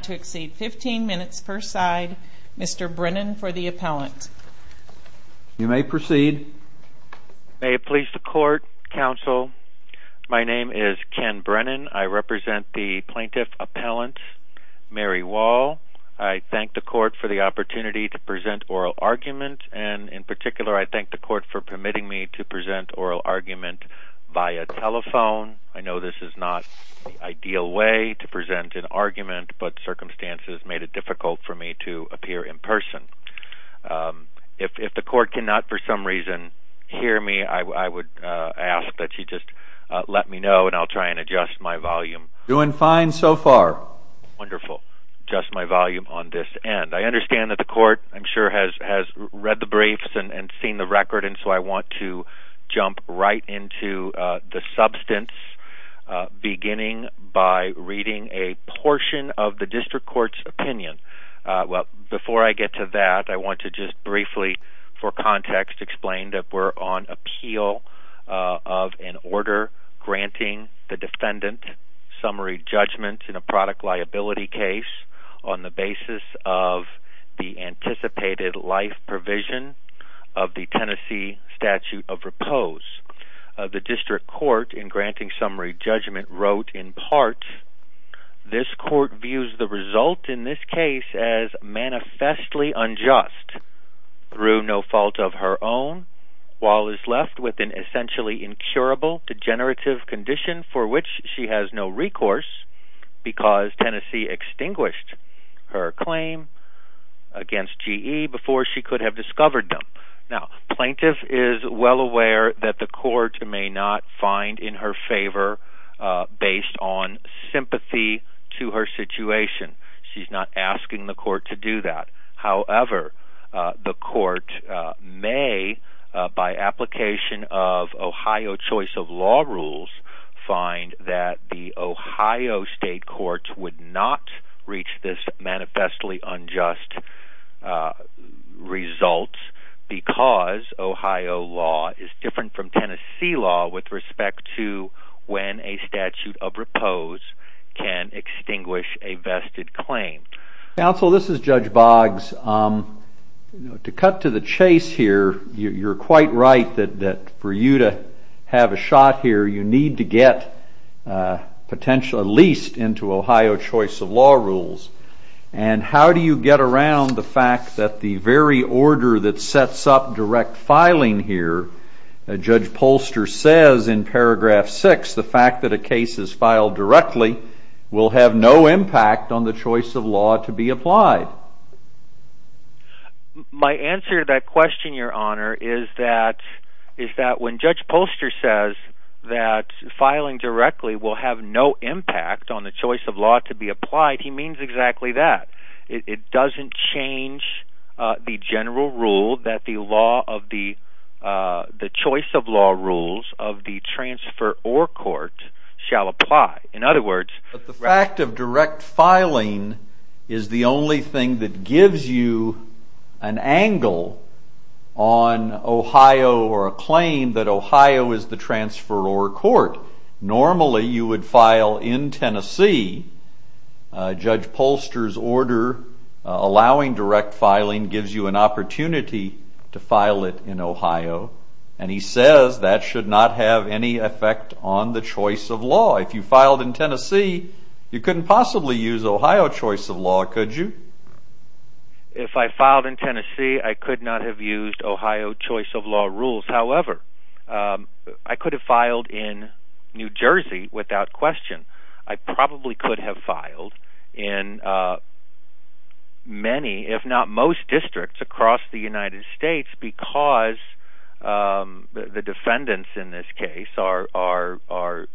15 minutes per side Mr. Brennan for the appellant. You may proceed. May it please the court counsel my name is Ken Brennan I represent the plaintiff appellant Mary Wahl I thank the court for the opportunity to present oral argument and in particular I thank the court for permitting me to present oral argument by a telephone I know this is not the ideal way to present an argument but circumstances made it difficult for me to appear in person if the court cannot for some reason hear me I would ask that you just let me know and I'll try and adjust my volume doing fine so far wonderful just my volume on this end I understand that the court I'm sure has has read the briefs and seen the record and so I want to jump right into the substance beginning by reading a portion of the district court's opinion well before I get to that I want to just briefly for context explain that we're on appeal of an order granting the defendant summary judgment in a product liability case on the basis of the anticipated life provision of the Tennessee statute of repose the district court in granting summary judgment wrote in part this court views the result in this case as manifestly unjust through no fault of her own while is left with an essentially incurable degenerative condition for which she has no recourse because Tennessee extinguished her claim against GE before she could have discovered them now plaintiff is well aware that the court may not find in her favor based on sympathy to her situation she's not asking the court to do that however the court may by application of Ohio choice of law rules find that the Ohio state courts would not reach this manifestly with respect to when a statute of repose can extinguish a vested claim. Counsel this is Judge Boggs to cut to the chase here you're quite right that that for you to have a shot here you need to get potential at least into Ohio choice of law rules and how do you get around the fact that the very order that sets up direct filing here Judge Polster says in paragraph 6 the fact that a case is filed directly will have no impact on the choice of law to be applied. My answer to that question your honor is that is that when Judge Polster says that filing directly will have no impact on the choice of law to be applied he doesn't change the general rule that the law of the the choice of law rules of the transfer or court shall apply in other words the fact of direct filing is the only thing that gives you an angle on Ohio or a claim that Ohio is the Tennessee Judge Polster's order allowing direct filing gives you an opportunity to file it in Ohio and he says that should not have any effect on the choice of law if you filed in Tennessee you couldn't possibly use Ohio choice of law could you? If I filed in Tennessee I could not have used Ohio choice of law rules however I could have filed in New Jersey without question I probably could have filed in many if not most districts across the United States because the defendants in this case are are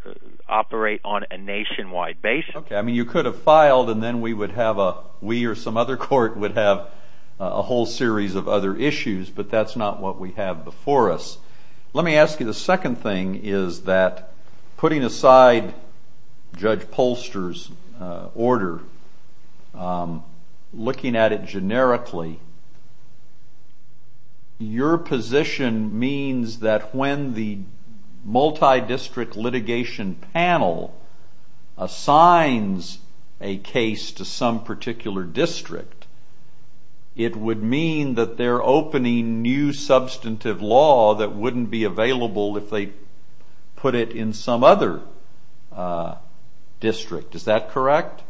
operate on a nationwide basis. Okay I mean you could have filed and then we would have a we or some other court would have a whole series of other issues but that's not what we have before us. Let me ask you the second thing is that putting aside Judge Polster's order looking at it generically your position means that when the multi-district litigation panel assigns a case to some particular district it would mean that they're opening new substantive law that wouldn't be available if they put it in some other district is that correct?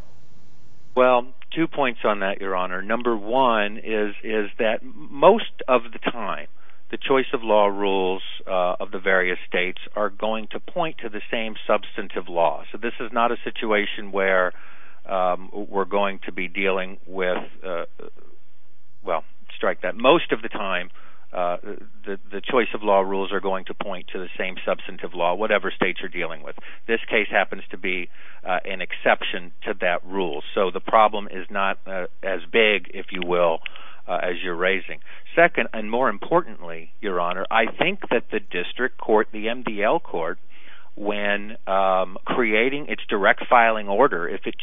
Well two points on that your honor number one is is that most of the time the choice of law rules of the various states are going to point to the same with well strike that most of the time the choice of law rules are going to point to the same substantive law whatever states are dealing with this case happens to be an exception to that rule so the problem is not as big if you will as you're raising. Second and more importantly your honor I think that the district court the MDL court when creating its direct filing order if it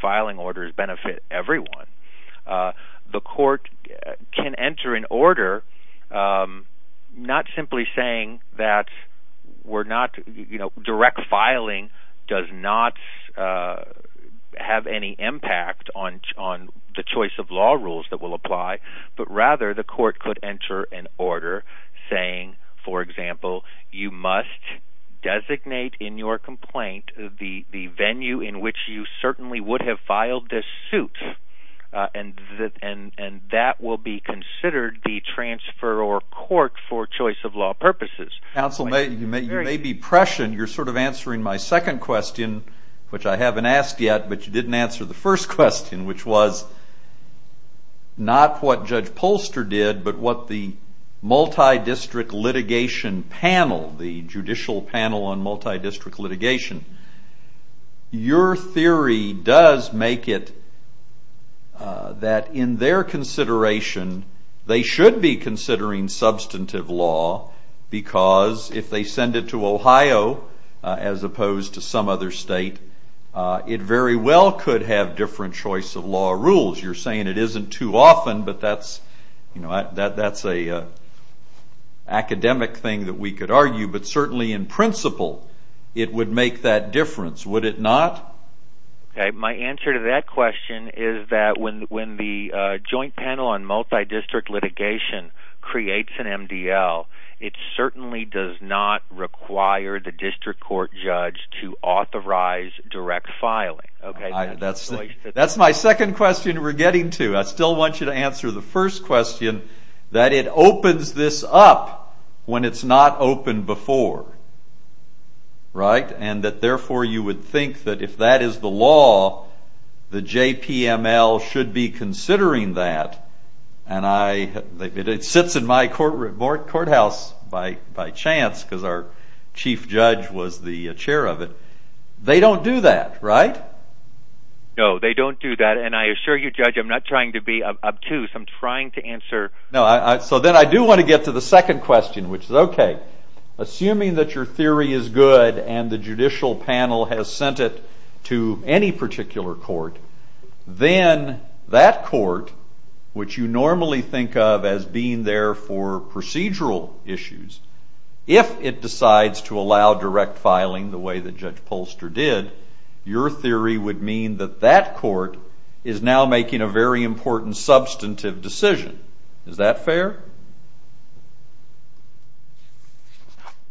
filing orders benefit everyone the court can enter an order not simply saying that we're not you know direct filing does not have any impact on on the choice of law rules that will apply but rather the court could enter an order saying for example you must designate in your complaint the the venue in which you certainly would have filed this suit and that and and that will be considered the transfer or court for choice of law purposes. Counsel may you may you may be prescient you're sort of answering my second question which I haven't asked yet but you didn't answer the first question which was not what Judge Polster did but what the multi-district litigation panel the your theory does make it that in their consideration they should be considering substantive law because if they send it to Ohio as opposed to some other state it very well could have different choice of law rules you're saying it isn't too often but that's you know that that's a academic thing that we could argue but certainly in principle it would make that difference would it not? My answer to that question is that when when the joint panel on multi-district litigation creates an MDL it certainly does not require the district court judge to authorize direct filing. That's that's my second question we're getting to I still want you to answer the first question that it opens this up when it's not open before right and that therefore you would think that if that is the law the JPML should be considering that and I it sits in my court report courthouse by by chance because our chief judge was the chair of it they don't do that right? No they don't do that and I assure you judge I'm not trying to be obtuse I'm trying to answer. No I so then I do want to get to the second question which is okay assuming that your theory is good and the judicial panel has sent it to any particular court then that court which you normally think of as being there for procedural issues if it decides to allow direct filing the way that Judge Polster did your theory would mean that that court is now making a very important substantive decision is that fair?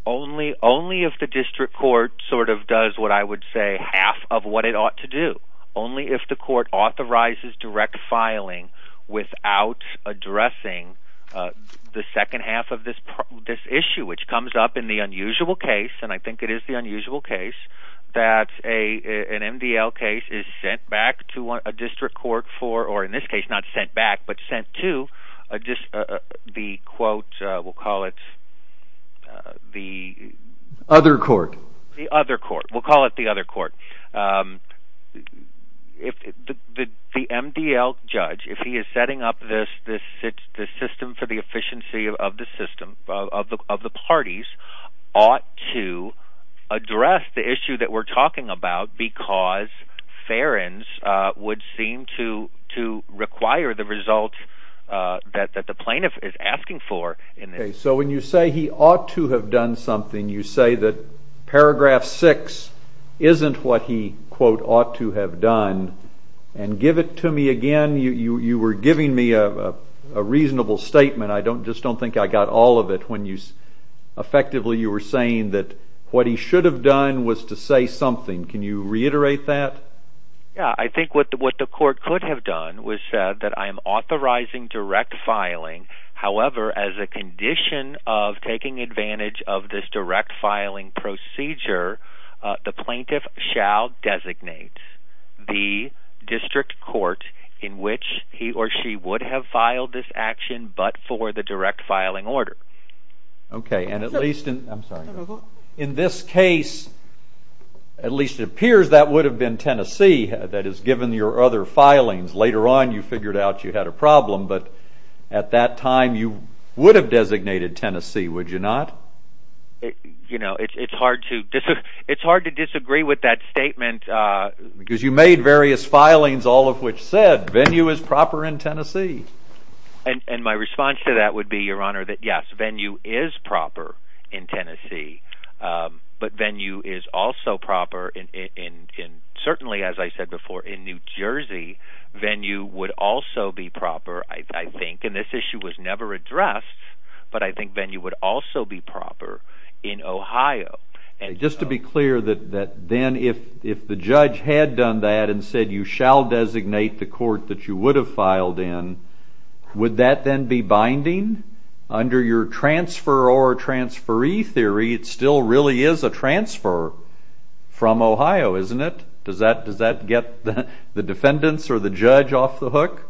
Only only if the district court sort of does what I would say half of what it ought to do only if the court authorizes direct filing without addressing the second half of this this issue which comes up in the unusual case and I think it is the unusual case that a an MDL case is sent back to a district court for or in this case not sent back but sent to just the quote we'll call it the other court the other court we'll call it the other court if the MDL judge if he is setting up this this sits the system for the efficiency of the system of the of the parties ought to address the issue that we're talking about because Ferens would seem to to require the result that that the plaintiff is asking for. So when you say he ought to have done something you say that paragraph six isn't what he quote ought to have done and give it to me again you you you were giving me a reasonable statement I don't just don't think I got all of it when you effectively you were saying that what he should have done was to say something can you reiterate that? Yeah I think what the what the court could have done was said that I am authorizing direct filing however as a condition of taking advantage of this direct filing procedure the plaintiff shall designate the district court in which he or she would have filed this at least it appears that would have been Tennessee that is given your other filings later on you figured out you had a problem but at that time you would have designated Tennessee would you not? You know it's hard to just it's hard to disagree with that statement because you made various filings all of which said venue is proper in Tennessee. And my response to that would be your honor that yes venue is proper in Tennessee but venue is also proper in certainly as I said before in New Jersey venue would also be proper I think and this issue was never addressed but I think venue would also be proper in Ohio. And just to be clear that that then if if the judge had done that and said you shall designate the court that you would have filed in would that then be binding under your transfer or transferee theory it still really is a transfer from Ohio isn't it? Does that does that get the defendants or the judge off the hook?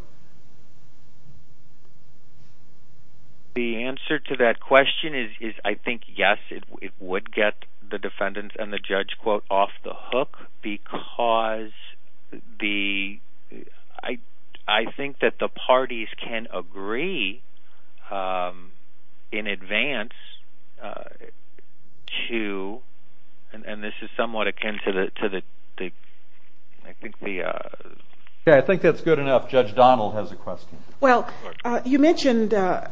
The answer to that question is I think yes it would get the defendants and the in advance to and this is somewhat akin to the to the I think the yeah I think that's good enough Judge Donald has a question. Well you mentioned a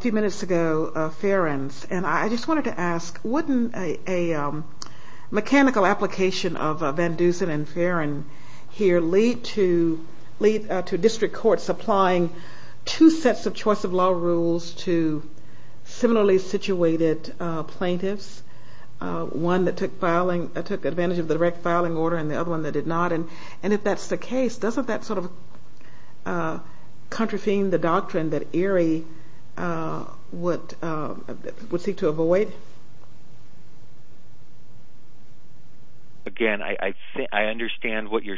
few minutes ago Farron's and I just wanted to ask wouldn't a mechanical application of Van Dusen and Farron here lead to lead to district courts applying two sets of choice of law rules to similarly situated plaintiffs one that took filing I took advantage of the direct filing order and the other one that did not and and if that's the case doesn't that sort of contravene the doctrine that Erie would would seek to avoid? Again I understand what you're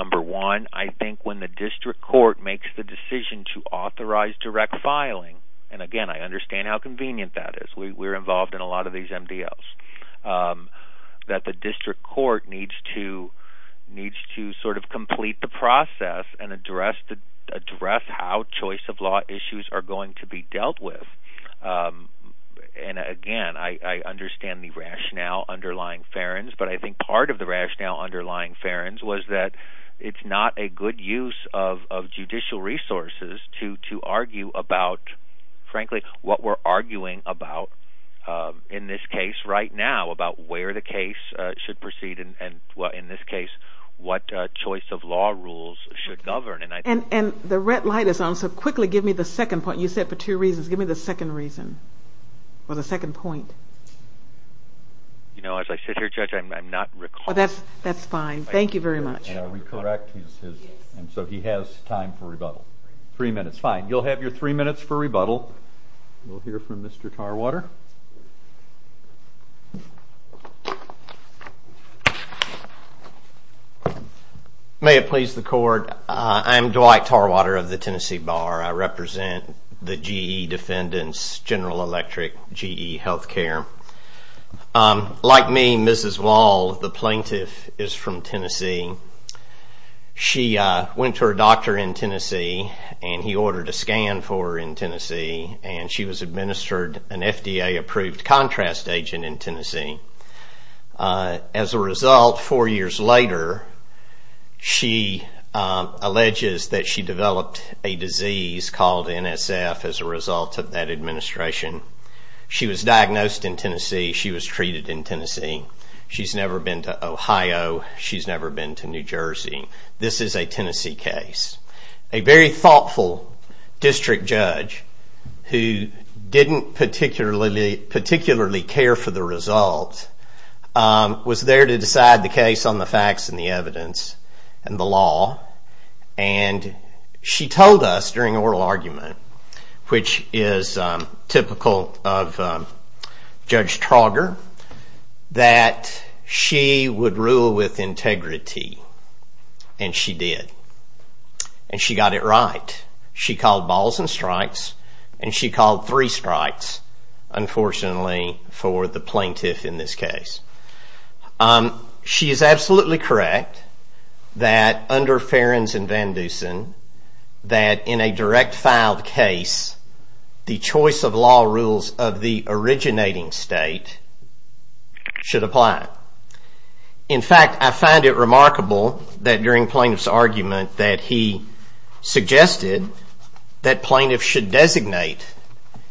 number one I think when the district court makes the decision to authorize direct filing and again I understand how convenient that is we're involved in a lot of these MDLs that the district court needs to needs to sort of complete the process and address the address how choice of law issues are going to be dealt with and again I understand the rationale underlying Farron's but I it's not a good use of judicial resources to to argue about frankly what we're arguing about in this case right now about where the case should proceed and well in this case what choice of law rules should govern and I and and the red light is on so quickly give me the second point you said for two reasons give me the second reason or the second point. You know as I sit here judge I'm not recall that's that's fine thank you very much. Are we correct and so he has time for rebuttal three minutes fine you'll have your three minutes for rebuttal we'll hear from Mr. Tarwater. May it please the court I'm Dwight Tarwater of the Tennessee Bar I represent the GE defendants General Electric GE Health Care. Like me Mrs. Wall the plaintiff is from Tennessee. She went to her doctor in Tennessee and he ordered a scan for in Tennessee and she was administered an FDA approved contrast agent in Tennessee. As a result four years later she alleges that she developed a disease called NSF as a result of that administration. She was never been to Ohio she's never been to New Jersey this is a Tennessee case. A very thoughtful district judge who didn't particularly particularly care for the result was there to decide the case on the facts and the evidence and the law and she told us during oral argument which is typical of Judge Trauger that she would rule with integrity and she did and she got it right. She called balls and strikes and she called three strikes unfortunately for the plaintiff in this case. She is absolutely correct that under Ferens and Van Dusen that in a direct filed case the choice of law rules of the should apply. In fact I find it remarkable that during plaintiff's argument that he suggested that plaintiff should designate.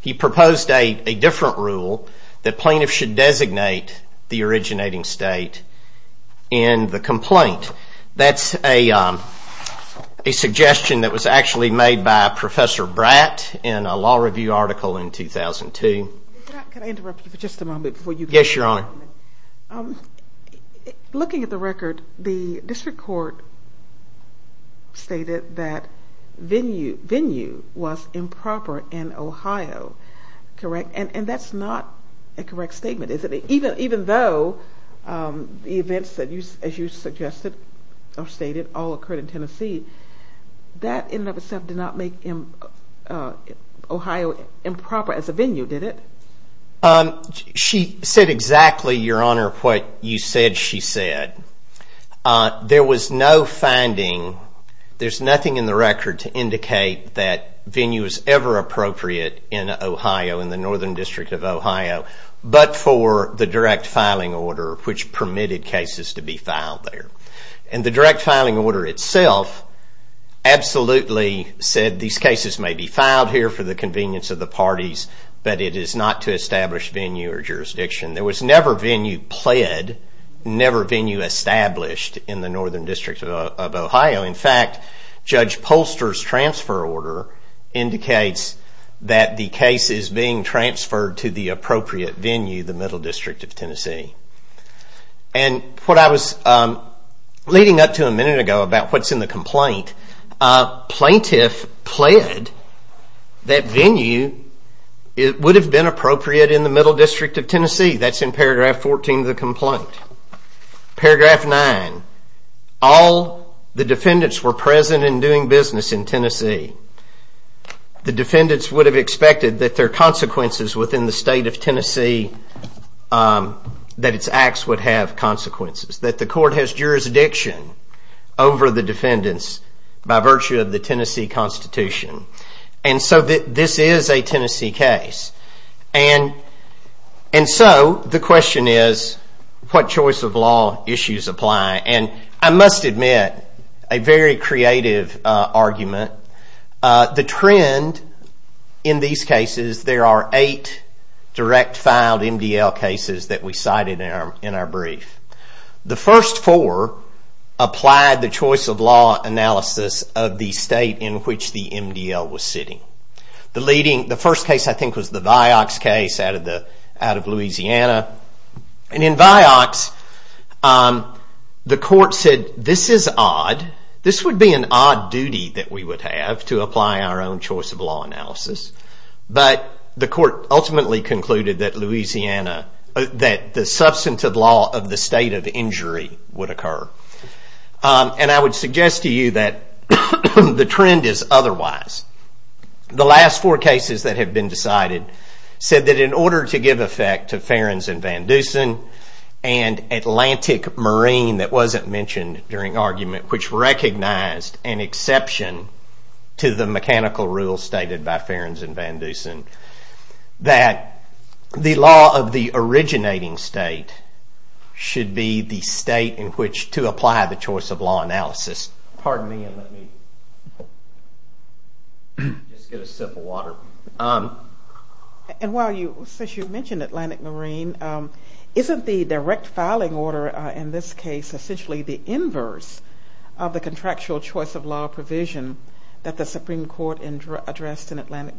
He proposed a different rule that plaintiff should designate the originating state in the complaint. That's a suggestion that was actually made by Professor Bratt in a review article in 2002. Can I interrupt you for just a moment? Yes your honor. Looking at the record the district court stated that venue venue was improper in Ohio correct and and that's not a correct statement is it even even though the events that you as you suggested or stated all occurred in Tennessee that in and of itself did not make Ohio improper as a venue did it? She said exactly your honor what you said she said. There was no finding there's nothing in the record to indicate that venue is ever appropriate in Ohio in the northern district of Ohio but for the direct filing order which permitted cases to be filed there and the direct these cases may be filed here for the convenience of the parties but it is not to establish venue or jurisdiction. There was never venue pled, never venue established in the northern district of Ohio. In fact Judge Polster's transfer order indicates that the case is being transferred to the appropriate venue the Middle District of Tennessee. And what I was leading up to a minute ago about what's in the complaint plaintiff pled that venue it would have been appropriate in the Middle District of Tennessee that's in paragraph 14 of the complaint paragraph 9 all the defendants were present and doing business in Tennessee the defendants would have expected that their consequences within the state of Tennessee that its acts would have consequences that the court has jurisdiction over the defendants by virtue of the Tennessee Constitution and so that this is a Tennessee case and and so the question is what choice of law issues apply and I must admit a very creative argument the trend in these cases there are eight direct filed MDL cases that we cited in our in our brief the first four applied the choice of law analysis of the state in which the MDL was sitting. The leading the first case I think was the Vioxx case out of the out of Louisiana and in Vioxx the court said this is odd this would be an odd duty that we would have to apply our own choice of law analysis but the court ultimately concluded that Louisiana that the substantive law of the state of injury would occur and I would suggest to you that the trend is otherwise the last four cases that have been decided said that in order to give effect to Ferens and Van Dusen and Atlantic Marine that wasn't mentioned during argument which recognized an exception to the mechanical rule stated by Ferens and Van Dusen that the law of the originating state should be the state in which to apply the choice of law analysis. Pardon me and let me just get a sip of water and while you since you mentioned Atlantic Marine isn't the direct filing order in this case essentially the inverse of the contractual choice of law provision that the Supreme Court addressed in Atlantic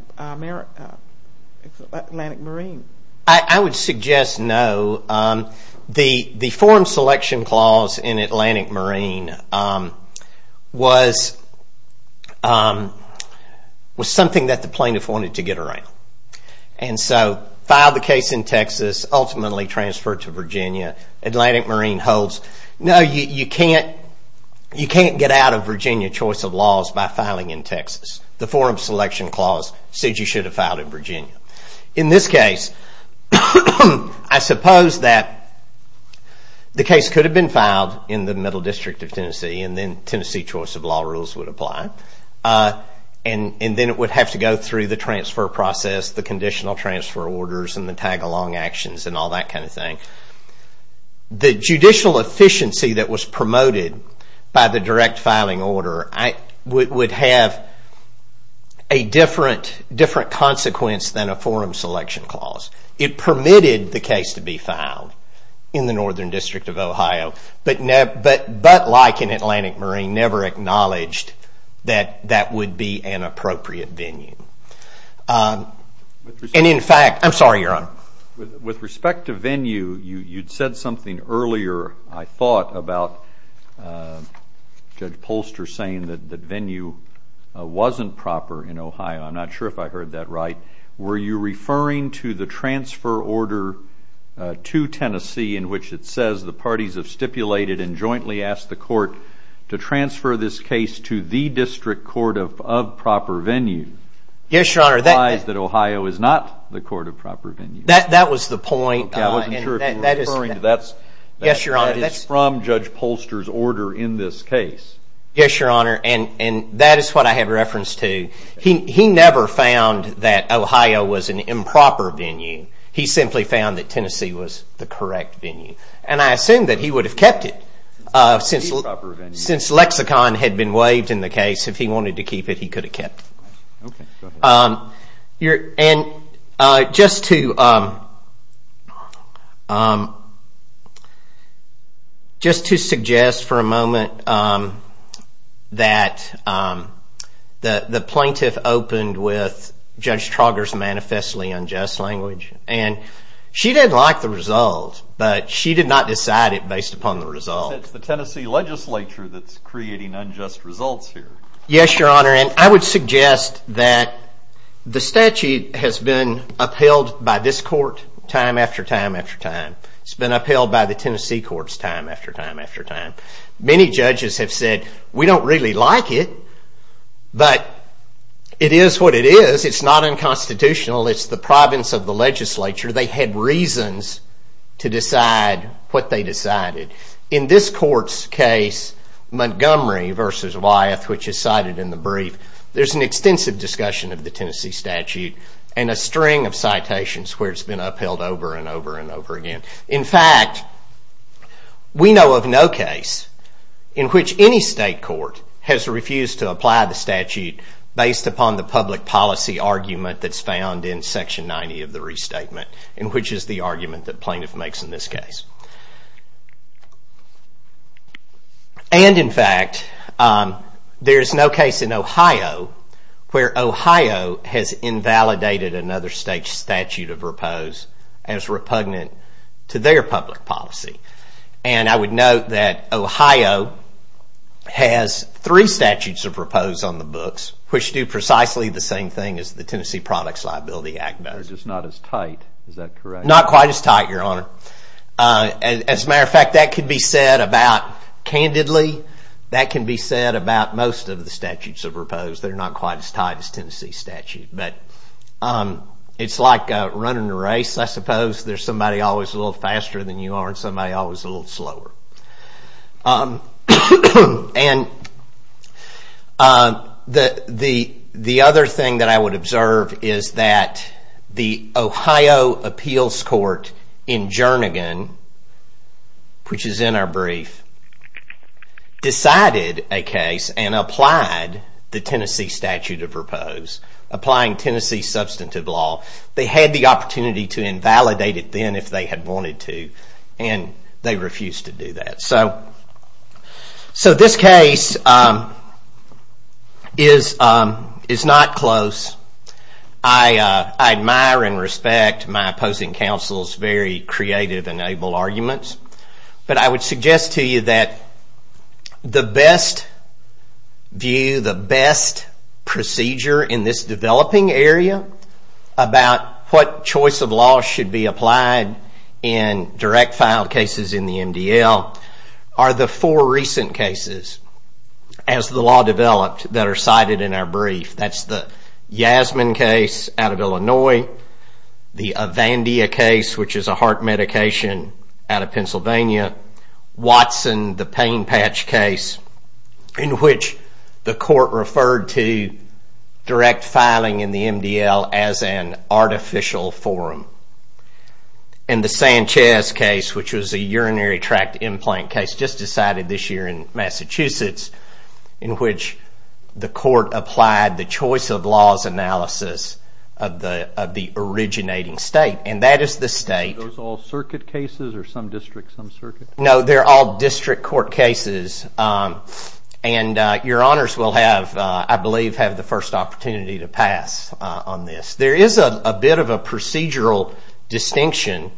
Marine. I would suggest no the the forum selection clause in Atlantic Marine was was something that the plaintiff wanted to get around and so filed the case in Texas ultimately transferred to Virginia Atlantic Marine holds no you can't you can't get out of Virginia choice of laws by filing in Texas. The forum selection clause said you should have filed in Virginia. In this case I suppose that the case could have been filed in the middle district of Tennessee and then Tennessee choice of law rules would apply and and then it would have to go through the transfer process the conditional transfer orders and the tag-along actions and all that kind of thing. The would have a different consequence than a forum selection clause. It permitted the case to be filed in the northern district of Ohio but like in Atlantic Marine never acknowledged that that would be an appropriate venue. And in fact I'm sorry your honor. With respect to venue you you'd said something earlier I thought about Judge Polster saying that the venue wasn't proper in Ohio. I'm not sure if I heard that right. Were you referring to the transfer order to Tennessee in which it says the parties have stipulated and jointly asked the court to transfer this case to the district court of proper venue? Yes your honor. That implies that Ohio is not the court of proper venue. That that was the point. I wasn't sure if you were referring to that. Yes your honor. That is from Judge what I had referenced to. He never found that Ohio was an improper venue. He simply found that Tennessee was the correct venue and I assume that he would have kept it since lexicon had been waived in the case. If he wanted to keep it he could have kept it. Just to suggest for a moment that the plaintiff opened with Judge Trauger's manifestly unjust language and she didn't like the result but she did not decide it based upon the result. It's the Tennessee legislature that's creating unjust results here. Yes your honor and I would suggest that the statute has been upheld by this court time after time after time. It's been upheld by the Tennessee courts time after time after time. Many judges have said we don't really like it but it is what it is. It's not unconstitutional. It's the province of the legislature. They had reasons to decide what they decided. In this court's case Montgomery versus Wyeth which is cited in the brief there's an extensive discussion of the Tennessee statute and a string of citations where it's been upheld over and over and over again. In fact we know of no case in which any state court has refused to apply the statute based upon the public policy argument that's found in section 90 of the restatement in which is the argument that plaintiff makes in this case. And in fact there's no case in Ohio where Ohio has been repugnant to their public policy. And I would note that Ohio has three statutes of repose on the books which do precisely the same thing as the Tennessee Products Liability Act does. Which is not as tight is that correct? Not quite as tight your honor. As a matter of fact that could be said about candidly. That can be said about most of the statutes of repose. They're not quite as tight as Tennessee's but it's like running a race. I suppose there's somebody always a little faster than you are and somebody always a little slower. And the other thing that I would observe is that the Ohio Appeals Court in Jernigan which is in our brief decided a case and applied the Tennessee statute of repose. Applying Tennessee substantive law. They had the opportunity to invalidate it then if they had wanted to and they refused to do that. So this case is not close. I admire and respect my opposing counsel's very creative and able arguments but I would suggest to you that the best view, the best procedure in this developing area about what choice of law should be applied in direct filed cases in the MDL are the four recent cases as the law developed that are cited in our brief. That's the Yasmin case out of Illinois. The Avandia case which is a heart medication out of Pennsylvania. Watson, the pain patch case in which the court referred to direct filing in the MDL as an artificial forum. And the Sanchez case which was a urinary tract implant case just decided this year in Massachusetts in which the court applied the choice of laws analysis of the originating state and that is the state. Those all circuit cases or some district some circuit? No, they're all district court cases and your honors will have, I believe, have the first opportunity to pass on this. There is a bit of a procedural distinction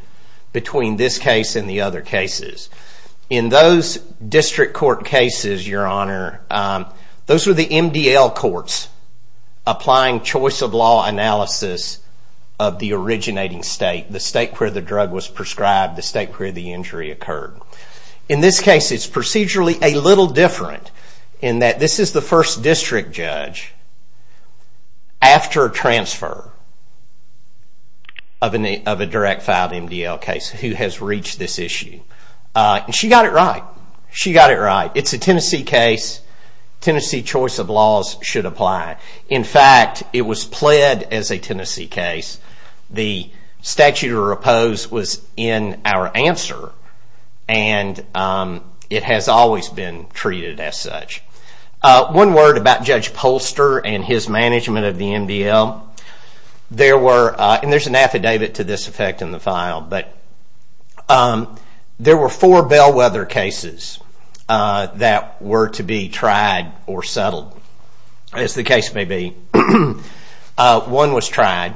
between this case and the other cases. In those district court cases, your honor, those were the MDL courts applying choice of law analysis of the originating state, the state where the drug was prescribed, the state where the injury occurred. In this case, it's procedurally a little different in that this is the first district judge after transfer of a direct filed MDL case who has reached this issue. She got it right. She got it right. It's a Tennessee case. Tennessee choice of laws should apply. In fact, it was pled as a Tennessee case. The statute of repose was in our answer and it has always been treated as such. One word about Judge Polster and his management of the MDL. There were, and there's an affidavit to this effect in the file, but there were four bellwether cases that were to be tried or settled as the case may be. One was tried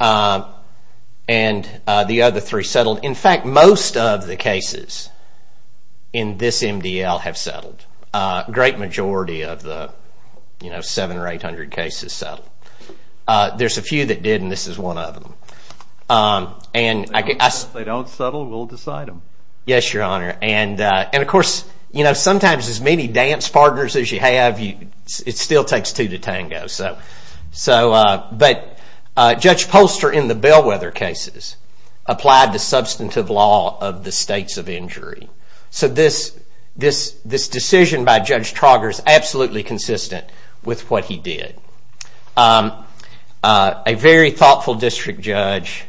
and the other three settled. In fact, most of the cases in this MDL have settled. A great majority of the seven or eight hundred cases settled. There's a few that did and this is one of them. If they don't settle, we'll decide them. Yes, your honor. And of course, sometimes as many dance partners as you have, it still takes two to tango. But Judge Polster in the bellwether cases applied the substantive law of the states of injury. So this decision by Judge Trauger is absolutely consistent with what he did. A very thoughtful district judge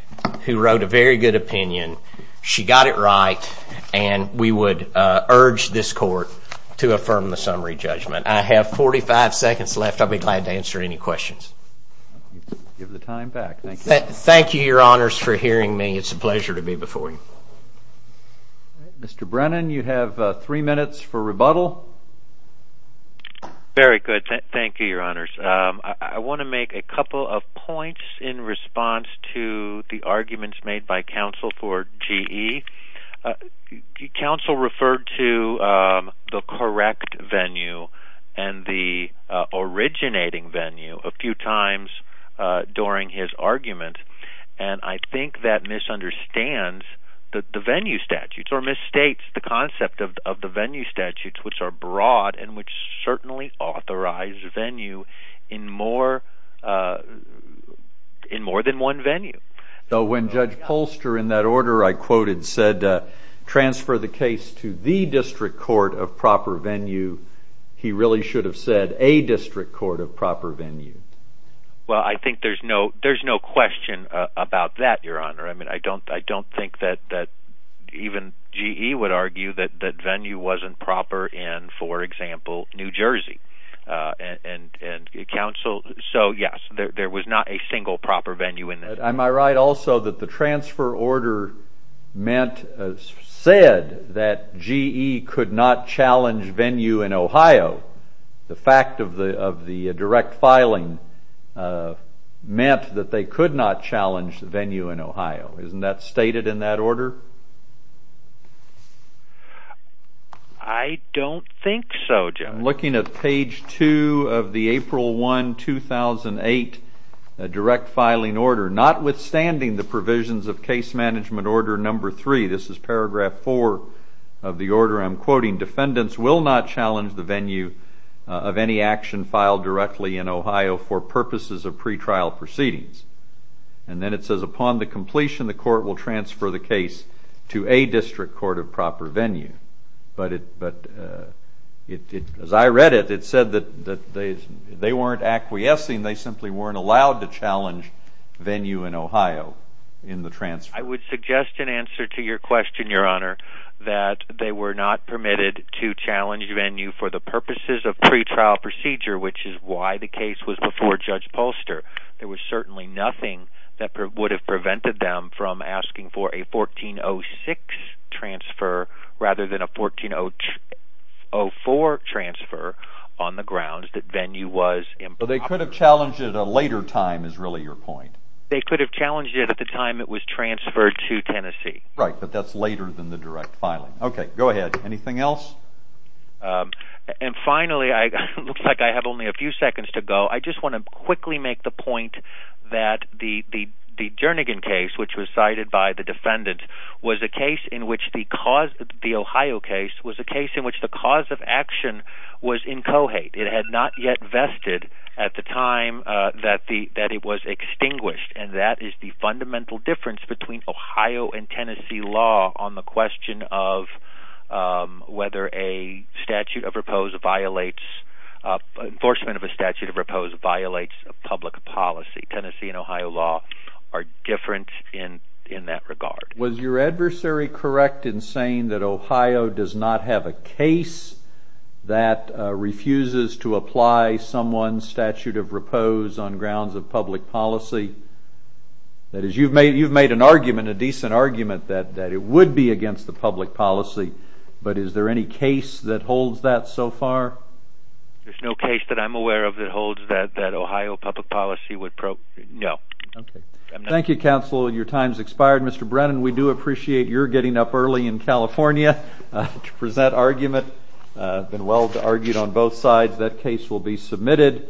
who wrote a very good opinion. She got it right and we would urge this court to affirm the summary judgment. I have 45 seconds left. I'll be glad to answer any questions. Give the time back. Thank you. Thank you, your honors, for hearing me. It's a pleasure to be before you. Mr. Brennan, you have three minutes for rebuttal. Very good. Thank you, your honors. I want to make a couple of points in response to the arguments made by counsel for GE. Counsel referred to the correct venue and the originating venue a few times during his argument and I think that misunderstands the venue statutes or misstates the concept of the venue statutes which are broad and which certainly authorize venue in more than one venue. Though when Judge Polster in that order I quoted said transfer the case to the district court of proper venue he really should have said a district court of proper venue. Well I think there's no there's no question about that, your honor. I mean I don't I don't think that that even GE would argue that that venue wasn't proper in, for example, New Jersey. And counsel, so yes there was not a single proper venue in there. Am I right also that the transfer order meant, said that GE could not challenge venue in Ohio. The fact of the of the direct filing meant that they could not challenge the venue in Ohio. Isn't that stated in that order? I don't think so, Judge. I'm looking at page 2 of the April 1, 2008 direct filing order. Notwithstanding the provisions of case management order number 3, this is paragraph 4 of the order, I'm quoting defendants will not challenge the venue of any action filed directly in Ohio for purposes of pretrial proceedings. And then it says upon the completion the court will transfer the case to a district court of proper venue. But it but it as I read it it said that that they weren't acquiescing, they simply weren't allowed to challenge venue in Ohio in the transfer. I would suggest an answer to your question, your honor, that they were not permitted to challenge venue for the purposes of pretrial procedure, which is why the case was before Judge Polster. There was certainly nothing that would have prevented them from asking for a 1406 transfer rather than a 1404 transfer on the ground that venue was in. But they could have challenged it at a later time is really your point. They could have challenged it at the time it was transferred to Tennessee. Right, but that's later than the direct filing. Okay, go ahead. Anything else? And finally, it looks like I have only a few seconds to go. I just want to quickly make the point that the Jernigan case, which was cited by the defendant, was a case in which the cause, the Ohio case, was a case in which the cause of action was in cohate. It had not yet vested at the time that the that it was extinguished. And that is the fundamental difference between Ohio and Tennessee law on the question of whether a statute of repose violates, enforcement of a statute of repose violates a public policy. Tennessee and Ohio law are different in in that regard. Was your adversary correct in saying that Ohio does not have a case that refuses to apply someone's statute of repose on grounds of public policy? That is, you've made you've made an argument, a decent argument, that that it would be against the public policy. But is there any case that holds that so far? There's no case that I'm aware of that holds that that Ohio public policy would... No. Okay. Thank you, counsel. Your time's expired. Mr Brennan, we do appreciate your getting up early in California to present argument. Been well argued on both sides. That case will be submitted.